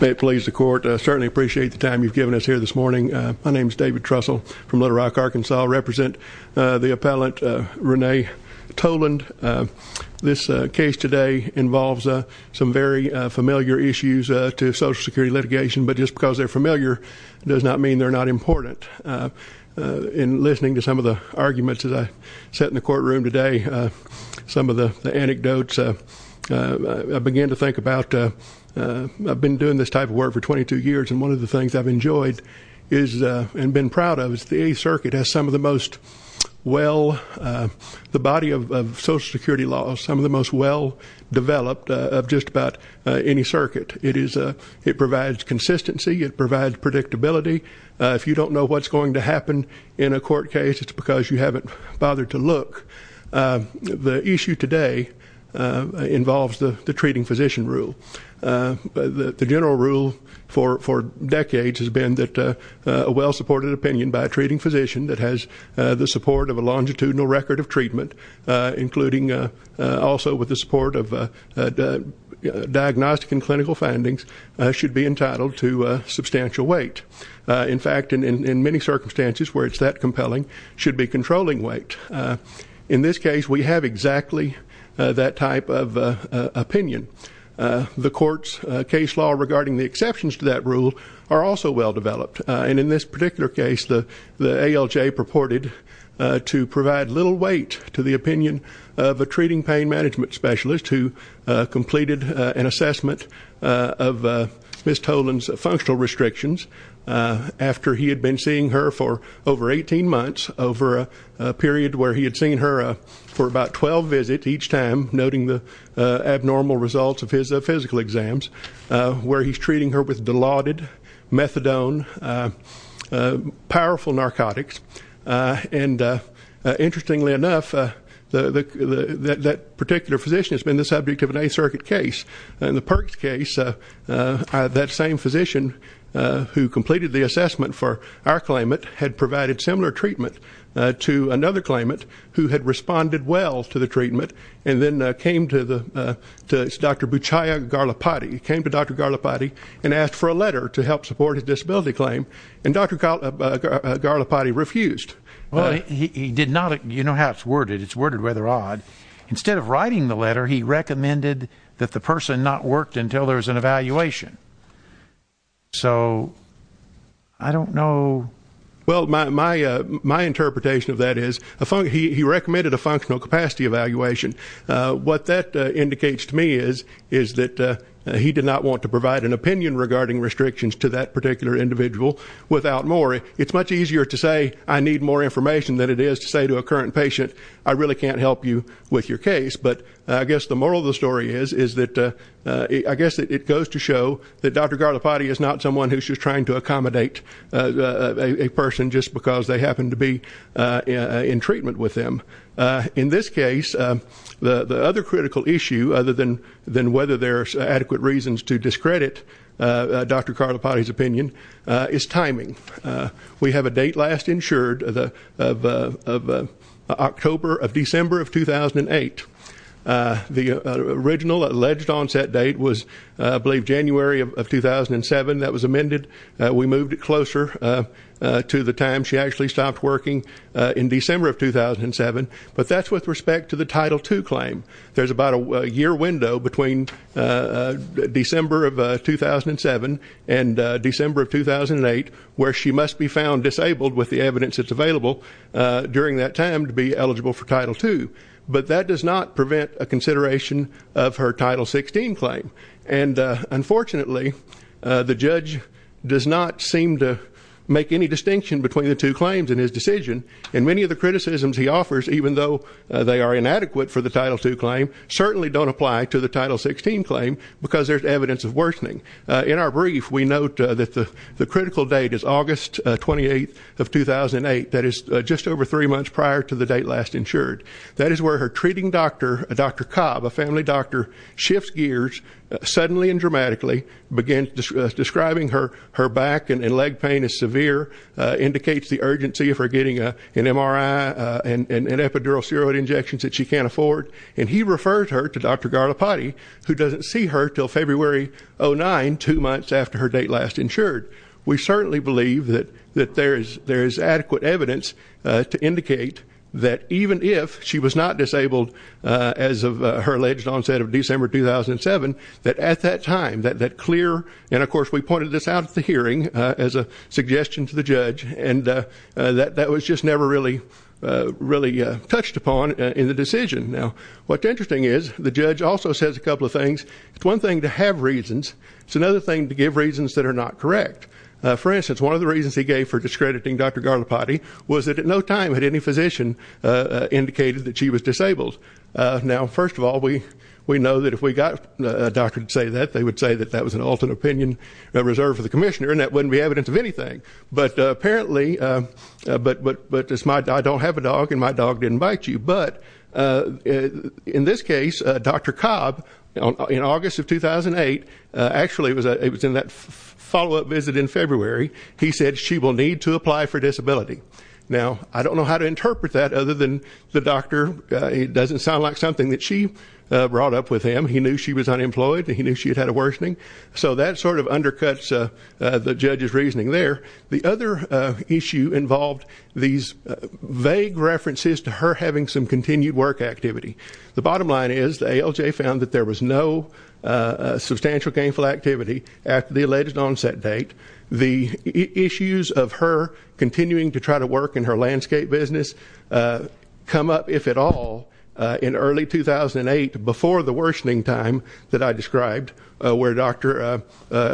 May it please the court. I certainly appreciate the time you've given us here this morning. My name is David Trussell from Little Rock, Arkansas. I represent the appellant Renee Toland. This case today involves some very familiar issues to Social Security litigation, but just because they're familiar does not mean they're not important. In listening to some of the arguments as I sat in the courtroom today, some of the anecdotes, I began to think about, I've been doing this type of work for 22 years and one of the things I've enjoyed is, and been proud of, is the 8th Circuit has some of the most well, the body of Social Security laws, some of the most well developed of just about any circuit. It provides consistency, it provides predictability. If you don't know what's going to happen in a court case, it's involves the treating physician rule. The general rule for decades has been that a well-supported opinion by a treating physician that has the support of a longitudinal record of treatment, including also with the support of diagnostic and clinical findings, should be entitled to substantial weight. In fact, in many circumstances where it's that compelling, should be controlling weight. In this case, we have exactly that type of opinion. The court's case law regarding the exceptions to that rule are also well developed. And in this particular case, the ALJ purported to provide little weight to the opinion of a treating pain management specialist who completed an assessment of Ms. Tolan's functional restrictions after he had been seeing her for over 18 months, over a period where he had seen her for about 12 visits each time, noting the abnormal results of his physical exams, where he's treating her with Dilaudid, methadone, powerful narcotics. And interestingly enough, that particular physician has been the subject of an 8th Circuit case. In the Perks case, that same physician who completed the assessment for our claimant had provided similar treatment to another claimant who had responded well to the treatment and then came to Dr. Buchaya Garlapati, came to Dr. Garlapati and asked for a letter to help support his disability claim. And Dr. Garlapati refused. Well, he did not. You know how it's worded. It's worded rather odd. Instead of writing the letter, he recommended that the Well, my interpretation of that is, he recommended a functional capacity evaluation. What that indicates to me is that he did not want to provide an opinion regarding restrictions to that particular individual without more. It's much easier to say, I need more information than it is to say to a current patient, I really can't help you with your case. But I guess the moral of the story is that, I guess it goes to show that Dr. Garlapati is not someone who's just trying to a person just because they happen to be in treatment with them. In this case, the other critical issue, other than whether there's adequate reasons to discredit Dr. Garlapati's opinion, is timing. We have a date last insured of October of December of 2008. The original alleged onset date was, I believe, January of 2007. That was amended. We moved it to the time she actually stopped working in December of 2007. But that's with respect to the Title II claim. There's about a year window between December of 2007 and December of 2008, where she must be found disabled with the evidence that's available during that time to be eligible for Title II. But that does not prevent a consideration of her Title XVI claim. And unfortunately, the judge does not seem to make any distinction between the two claims in his decision. And many of the criticisms he offers, even though they are inadequate for the Title II claim, certainly don't apply to the Title XVI claim because there's evidence of worsening. In our brief, we note that the critical date is August 28th of 2008. That is just over three months prior to the date last insured. That is where her treating doctor, Dr. Cobb, a family began describing her back and leg pain as severe, indicates the urgency of her getting an MRI and epidural steroid injections that she can't afford. And he refers her to Dr. Garlapati, who doesn't see her until February 2009, two months after her date last insured. We certainly believe that there is adequate evidence to indicate that even if she was not that clear. And of course, we pointed this out at the hearing as a suggestion to the judge, and that was just never really touched upon in the decision. Now, what's interesting is the judge also says a couple of things. It's one thing to have reasons. It's another thing to give reasons that are not correct. For instance, one of the reasons he gave for discrediting Dr. Garlapati was that at no time had any physician indicated that she was disabled. Now, first of all, we know if we got a doctor to say that, they would say that that was an alternate opinion reserved for the commissioner, and that wouldn't be evidence of anything. But apparently, but I don't have a dog and my dog didn't bite you. But in this case, Dr. Cobb, in August of 2008, actually it was in that follow-up visit in February, he said she will need to apply for disability. Now, I don't know how to interpret that other than the doctor, it doesn't sound like something that she brought up with him. He knew she was unemployed and he knew she had had a worsening. So that sort of undercuts the judge's reasoning there. The other issue involved these vague references to her having some continued work activity. The bottom line is the ALJ found that there was no substantial gainful activity at the alleged onset date. The issues of her continuing to try to work in her landscape business come up, if at all, in early 2008, before the worsening time that I described, where Dr.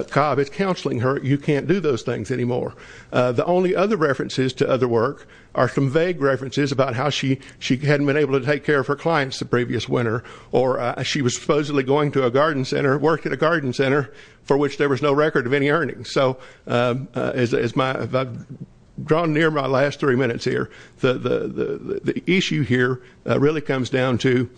Cobb is counseling her, you can't do those things anymore. The only other references to other work are some vague references about how she hadn't been able to take care of her clients the previous winter, or she was supposedly going to a garden center, work at a garden center, for which there was no record of any earnings. So as I've drawn near my last three minutes here, the issue here really comes down to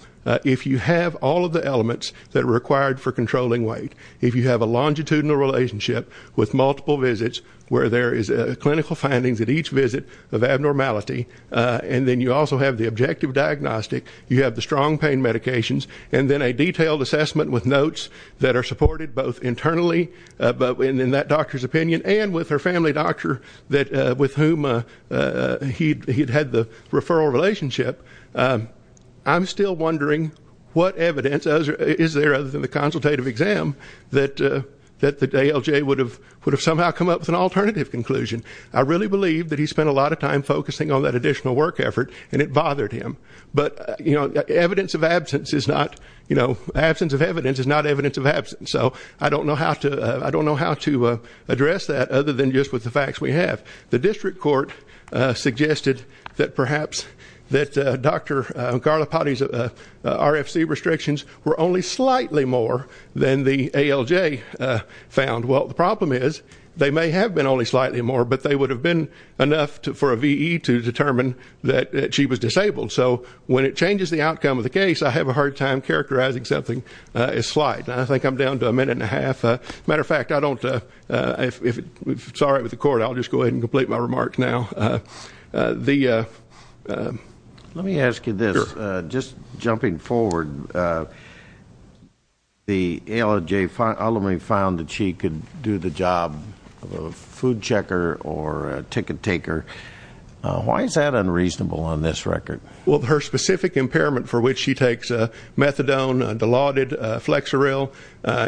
if you have all of the elements that are required for controlling weight, if you have a longitudinal relationship with multiple visits where there is clinical findings at each visit of abnormality, and then you also have the objective diagnostic, you have the strong pain medications, and then a detailed assessment with notes that are supported internally, in that doctor's opinion, and with her family doctor with whom he had the referral relationship, I'm still wondering what evidence is there other than the consultative exam that the ALJ would have somehow come up with an alternative conclusion. I really believe that he spent a lot of time focusing on that additional work effort, and it bothered him. But evidence of I don't know how to address that other than just with the facts we have. The district court suggested that perhaps that Dr. Garlapati's RFC restrictions were only slightly more than the ALJ found. Well, the problem is they may have been only slightly more, but they would have been enough for a VE to determine that she was disabled. So when it changes the outcome of the case, I have a hard time characterizing something as slight, and I think I'm down to a minute and a half. As a matter of fact, if it's all right with the court, I'll just go ahead and complete my remarks now. Let me ask you this. Just jumping forward, the ALJ ultimately found that she could do the job of a food checker or a ticket taker. Why is that unreasonable on this record? Well, her specific impairment, for which she takes methadone, Dilaudid, Flexeril,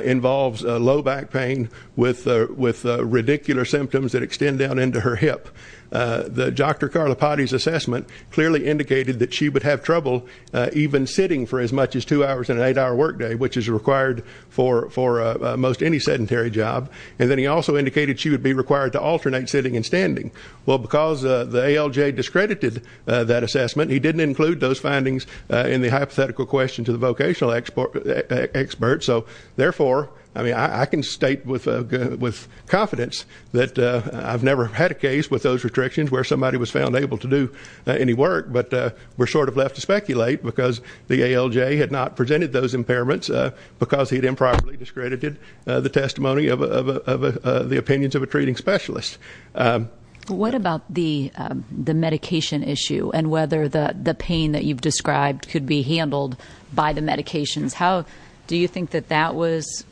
involves low back pain with radicular symptoms that extend down into her hip. Dr. Garlapati's assessment clearly indicated that she would have trouble even sitting for as much as two hours on an eight-hour workday, which is required for most any sedentary job. And then he also indicated she would be required to in the hypothetical question to the vocational expert. So therefore, I mean, I can state with confidence that I've never had a case with those restrictions where somebody was found able to do any work, but we're sort of left to speculate because the ALJ had not presented those impairments because he had improperly discredited the testimony of the opinions of a treating specialist. Um, what about the, um, the medication issue and whether the pain that you've described could be handled by the medications? How do you think that that was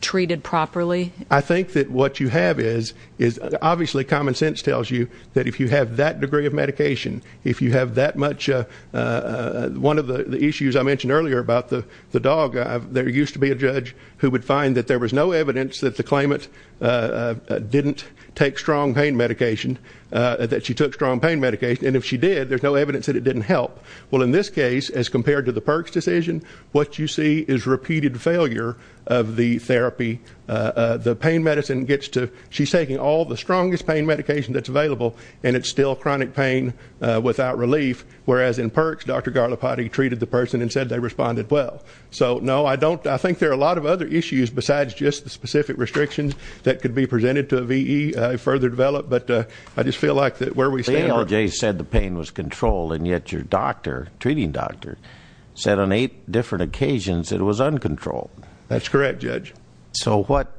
treated properly? I think that what you have is, is obviously common sense tells you that if you have that degree of medication, if you have that much, uh, uh, one of the issues I mentioned earlier about the dog, there used to be a judge who would find that there was no evidence that the claimant, uh, uh, didn't take strong pain medication, uh, that she took strong pain medication. And if she did, there's no evidence that it didn't help. Well, in this case, as compared to the perks decision, what you see is repeated failure of the therapy. Uh, uh, the pain medicine gets to, she's taking all the strongest pain medication that's available and it's still chronic pain, uh, without relief. Whereas in perks, Dr. Garlapati treated the person and said they responded well. So no, I don't, I think there are a lot of other issues besides just the specific restrictions that could be presented to a VE, uh, further developed, but, uh, I just feel like that where we stand. The ALJ said the pain was controlled and yet your doctor, treating doctor said on eight different occasions, it was uncontrolled. That's correct judge. So what,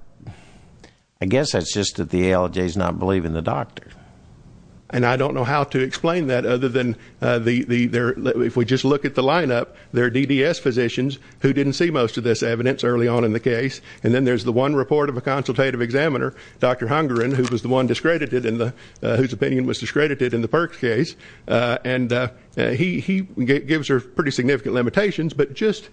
I guess that's just that the ALJ is not believing the doctor. And I don't know how to explain that other than, uh, the, the, the, if we just look at the lineup, there are DDS physicians who didn't see most of this evidence early on in the case. And then there's the one report of a consultative examiner, Dr. Hungerin, who was the one discredited in the, uh, whose opinion was discredited in the perks case. Uh, and, uh, he, he gives her pretty significant limitations, but just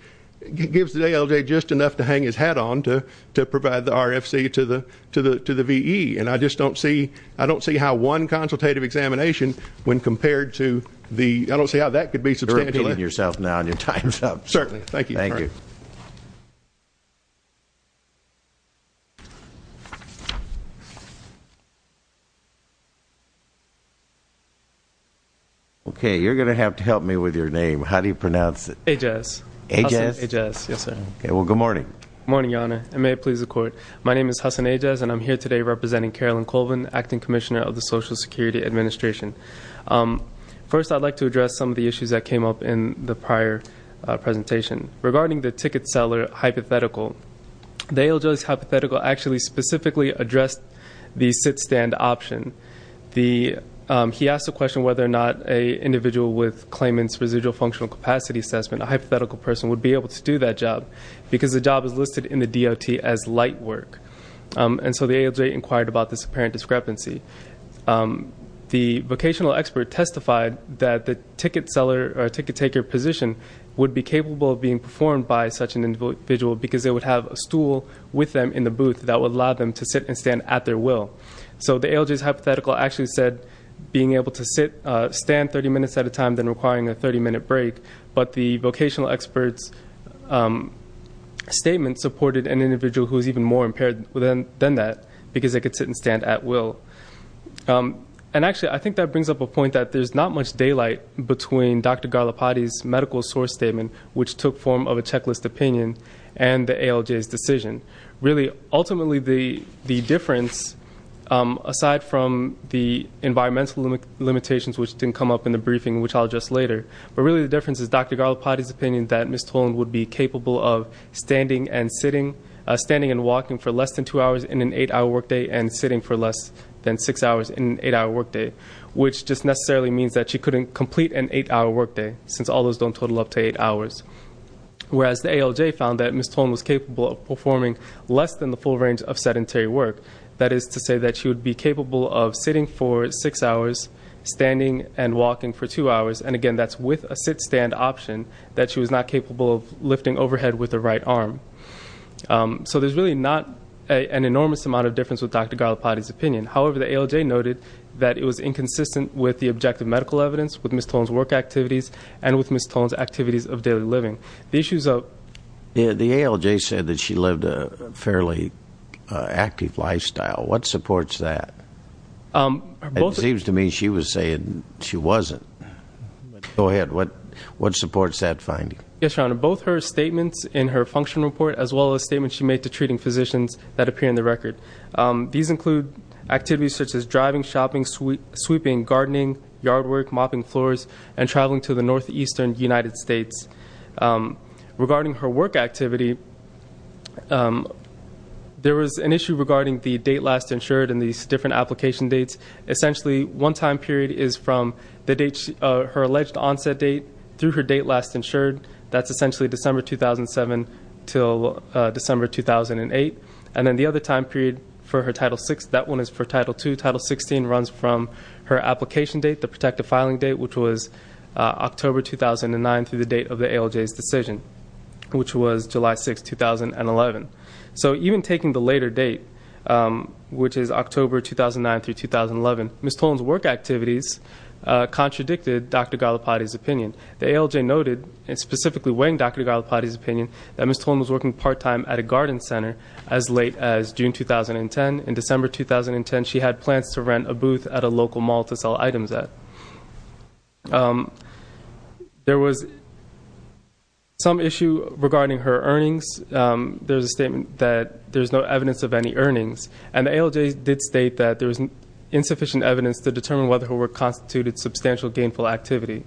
gives the ALJ just enough to hang his hat on to, to provide the RFC to the, to the, to the VE. And I just don't see, I don't see how one consultative examination when compared to the, I don't see how that could be substantial. You're repeating yourself now and your time's up. Certainly. Thank you. Thank you. Okay. You're going to have to help me with your name. How do you pronounce it? Ajez. Ajez. Ajez. Yes, sir. Okay. Well, good morning. Morning, Your Honor. And may it please the court. My name is Hasan Ajez and I'm here today representing Carolyn Colvin, Acting Commissioner of the Social Security Administration. Um, first I'd like to address some of the issues that came up in the prior, uh, presentation. Regarding the ticket seller hypothetical, the ALJ's hypothetical actually specifically addressed the sit-stand option. The, um, he asked the question whether or not a individual with claimant's residual functional capacity assessment, a hypothetical person, would be able to do that job because the job is listed in the DOT as light work. And so the ALJ inquired about this apparent discrepancy. Um, the vocational expert testified that the ticket seller or ticket taker position would be capable of being performed by such an individual because they would have a stool with them in the booth that would allow them to sit and stand at their will. So the ALJ's hypothetical actually said being able to sit, uh, stand 30 minutes at a time than requiring a 30 minute break. But the vocational expert's, um, statement supported an individual who is even more impaired than that because they could sit and stand at will. Um, and actually I think that brings up a point that there's not much daylight between Dr. Garlapati's medical source statement, which took form of a checklist opinion, and the ALJ's decision. Really, ultimately the, the difference, um, aside from the environmental limitations which didn't come up in the briefing, which I'll address later, but really the difference is Dr. Garlapati's opinion that Ms. Tolan would be capable of standing and sitting, uh, standing and walking for less than two hours in an eight hour workday and sitting for less than six hours in an eight hour workday, which just necessarily means that she couldn't complete an eight hour workday since all those don't total up to eight hours. Whereas the ALJ found that Ms. Tolan was capable of performing less than the full range of sedentary work. That is to say that she would be capable of sitting for six hours, standing and walking for two hours. And again, that's with a sit-stand option that she was not capable of lifting overhead with the right arm. Um, so there's really not an enormous amount of difference with Dr. Garlapati's opinion. However, the ALJ noted that it was inconsistent with the objective medical evidence with Ms. Tolan's work activities and with Ms. Tolan's activities of daily living. The issues of... Yeah, the ALJ said that she lived a fairly active lifestyle. What supports that? Um, it seems to me she was saying she wasn't. Go ahead. What, what supports that finding? Yes, Your Honor. Both her statements in her function report as well as statements she made to treating physicians that appear in the record. Um, these include activities such as driving, shopping, sweeping, gardening, yard work, mopping floors, and traveling to the Northeastern United States. Um, regarding her work activity, um, there was an issue regarding the date last insured and these different application dates. Essentially, one time period is from the date, uh, her alleged onset date through her date last insured. That's essentially December 2007 till, uh, December 2008. And then the other time period for her Title VI, that one is for Title II. Title XVI runs from her application date, the protective filing date, which was, uh, October 2009 through the date of the ALJ's decision, which was July 6, 2011. So even taking the later date, um, which is October 2009 through 2011, Ms. Tolan's work activities, uh, contradicted Dr. Gallipotti's opinion. The ALJ noted, and specifically weighing Dr. Gallipotti's opinion, that Ms. Tolan was working part-time at a garden center as late as June 2010. In December 2010, she had plans to rent a booth at a local mall to sell items at. Um, there was some issue regarding her earnings. Um, there's a statement that there's no evidence of any earnings. And the ALJ did state that there was insufficient evidence to determine whether her work constituted substantial gainful activity.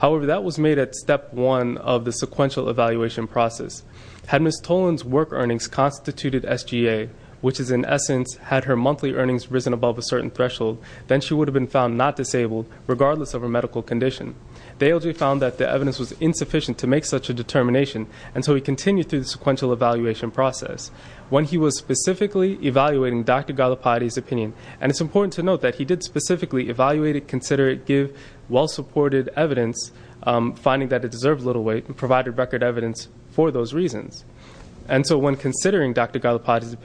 However, that was made at step one of the sequential evaluation process. Had Ms. Tolan's work earnings constituted SGA, which is in essence, had her monthly earnings risen above a certain threshold, then she would have been found not disabled regardless of her medical condition. The ALJ found that the evidence was insufficient to make such a determination. And so we continue through the sequential evaluation process. When he was specifically evaluating Dr. Gallipotti's opinion, and it's important to note that he did specifically evaluate it, consider it, give well-supported evidence, um, finding that it deserved little weight and provided record evidence for those reasons. And so when considering Dr. Gallipotti's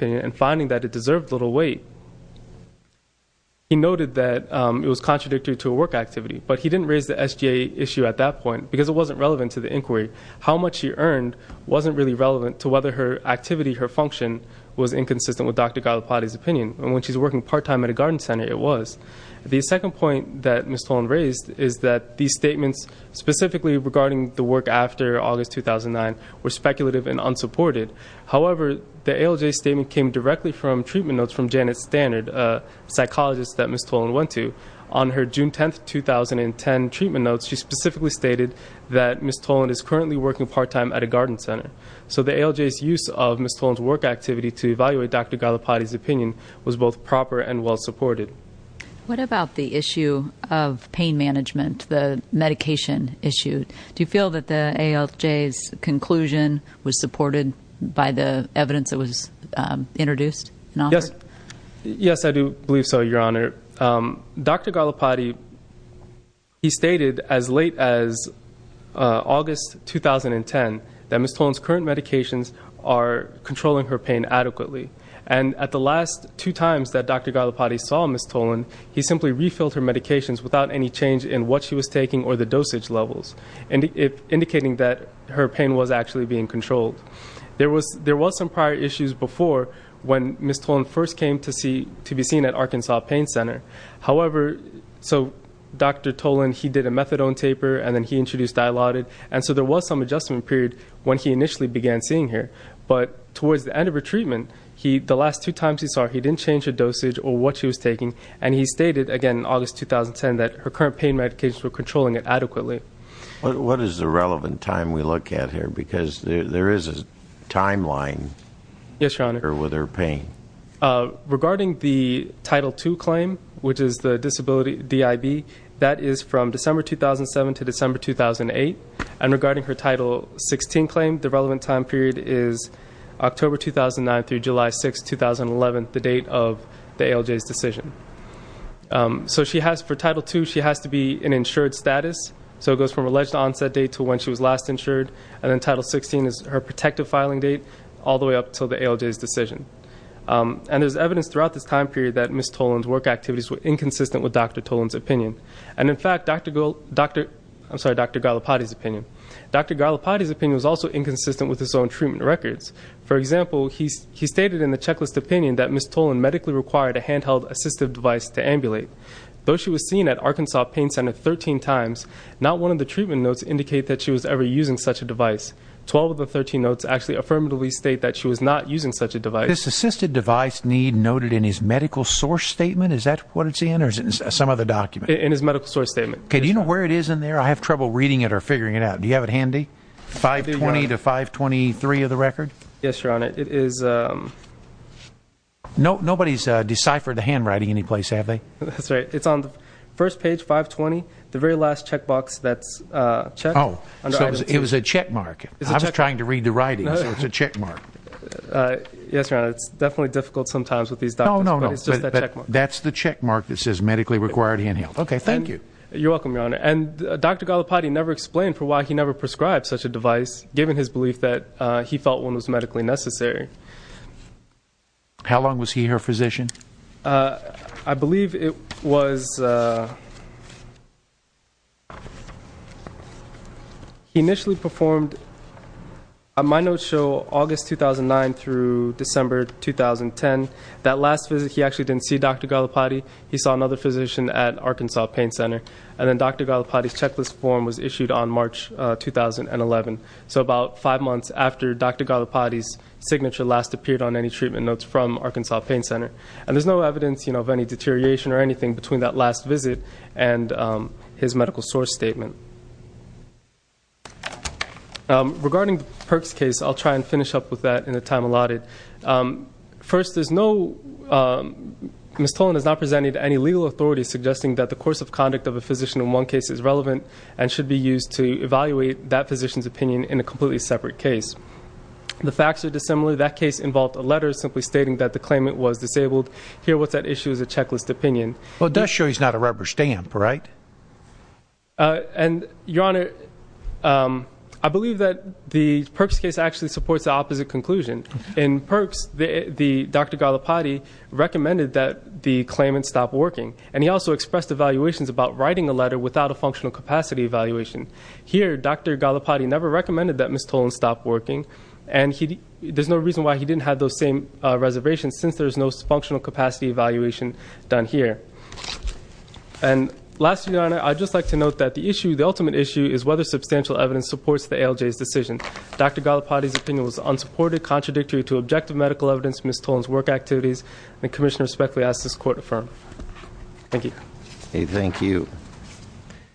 weight, he noted that, um, it was contradictory to a work activity, but he didn't raise the SGA issue at that point because it wasn't relevant to the inquiry. How much he earned wasn't really relevant to whether her activity, her function was inconsistent with Dr. Gallipotti's opinion. And when she's working part-time at a garden center, it was. The second point that Ms. Tolan raised is that these statements specifically regarding the work after August, 2009 were unsupported. However, the ALJ statement came directly from treatment notes from Janet Standard, a psychologist that Ms. Tolan went to. On her June 10th, 2010 treatment notes, she specifically stated that Ms. Tolan is currently working part-time at a garden center. So the ALJ's use of Ms. Tolan's work activity to evaluate Dr. Gallipotti's opinion was both proper and well-supported. What about the issue of pain management, the medication issue? Do you feel that the ALJ's conclusion was supported by the evidence that was introduced? Yes. Yes, I do believe so, Your Honor. Dr. Gallipotti, he stated as late as August, 2010, that Ms. Tolan's current medications are controlling her pain adequately. And at the last two times that Dr. Gallipotti saw Ms. Tolan, he simply refilled her medications without any change in what she was taking or the dosage levels, indicating that her pain was actually being controlled. There was some prior issues before when Ms. Tolan first came to be seen at Arkansas Pain Center. However, so Dr. Tolan, he did a methadone taper, and then he introduced Dilaudid, and so there was some adjustment period when he initially began seeing her. But towards the end of her treatment, the last two times he saw her, he didn't change her dosage or what she was taking. And he stated, again, in August, 2010, that her current pain medications were controlling it adequately. What is the relevant time we look at here? Because there is a timeline with her pain. Regarding the Title II claim, which is the disability DIB, that is from December 2007 to December 2008. And regarding her Title XVI claim, the relevant time period is October 2009 through July 6, 2011, the date of the ALJ's decision. So for Title II, she has to be in insured status. So it goes from alleged onset date to when she was last insured. And then Title XVI is her protective filing date, all the way up until the ALJ's decision. And there's evidence throughout this time period that Ms. Tolan's work activities were inconsistent with Dr. Tolan's opinion. And in fact, Dr. Gallipotti's opinion was also inconsistent with his own treatment records. For example, he stated in the checklist opinion that Ms. Tolan medically required a handheld assistive device to ambulate. Though she was seen at Arkansas Pain Center 13 times, not one of the treatment notes indicate that she was ever using such a device. 12 of the 13 notes actually affirmatively state that she was not using such a device. This assisted device need noted in his medical source statement? Is that what it's in? Or is it in some other document? In his medical source statement. Okay. Do you know where it is in there? I have trouble reading it or have it handy? 520 to 523 of the record? Yes, Your Honor. It is. Nobody's deciphered the handwriting anyplace, have they? That's right. It's on the first page, 520. The very last checkbox that's checked. Oh. So it was a checkmark. I was trying to read the writing. So it's a checkmark. Yes, Your Honor. It's definitely difficult sometimes with these doctors. No, no, no. But it's just a checkmark. That's the checkmark that says medically required handheld. Okay. Thank you. You're welcome, Your Honor. And Dr. Gallipotti never explained for why he never prescribed such a device, given his belief that he felt one was medically necessary. How long was he her physician? I believe it was he initially performed, my notes show August 2009 through December 2010. That last visit, he actually didn't see Dr. Gallipotti. He saw another physician at Arkansas Pain Center. And then Dr. Gallipotti's checklist form was issued on March 2011. So about five months after Dr. Gallipotti's signature last appeared on any treatment notes from Arkansas Pain Center. And there's no evidence of any deterioration or anything between that last visit and his medical source statement. Regarding the Perks case, I'll try and finish up with that in the time allotted. First, there's no, Ms. Tolan has not presented any legal authority suggesting that the course conduct of a physician in one case is relevant and should be used to evaluate that physician's opinion in a completely separate case. The facts are dissimilar. That case involved a letter simply stating that the claimant was disabled. Here, what's at issue is a checklist opinion. Well, it does show he's not a rubber stamp, right? And Your Honor, I believe that the Perks case actually supports the opposite conclusion. In Perks, Dr. Gallipotti recommended that the claimant stop working. And he also expressed evaluations about writing a letter without a functional capacity evaluation. Here, Dr. Gallipotti never recommended that Ms. Tolan stop working. And there's no reason why he didn't have those same reservations since there's no functional capacity evaluation done here. And lastly, Your Honor, I'd just like to note that the issue, the ultimate issue, is whether substantial evidence supports the ALJ's decision. Dr. Gallipotti's opinion was unsupported, contradictory to objective medical evidence, Ms. Tolan's work activities, and the Commissioner respectfully asks this Court to affirm. Thank you. Thank you.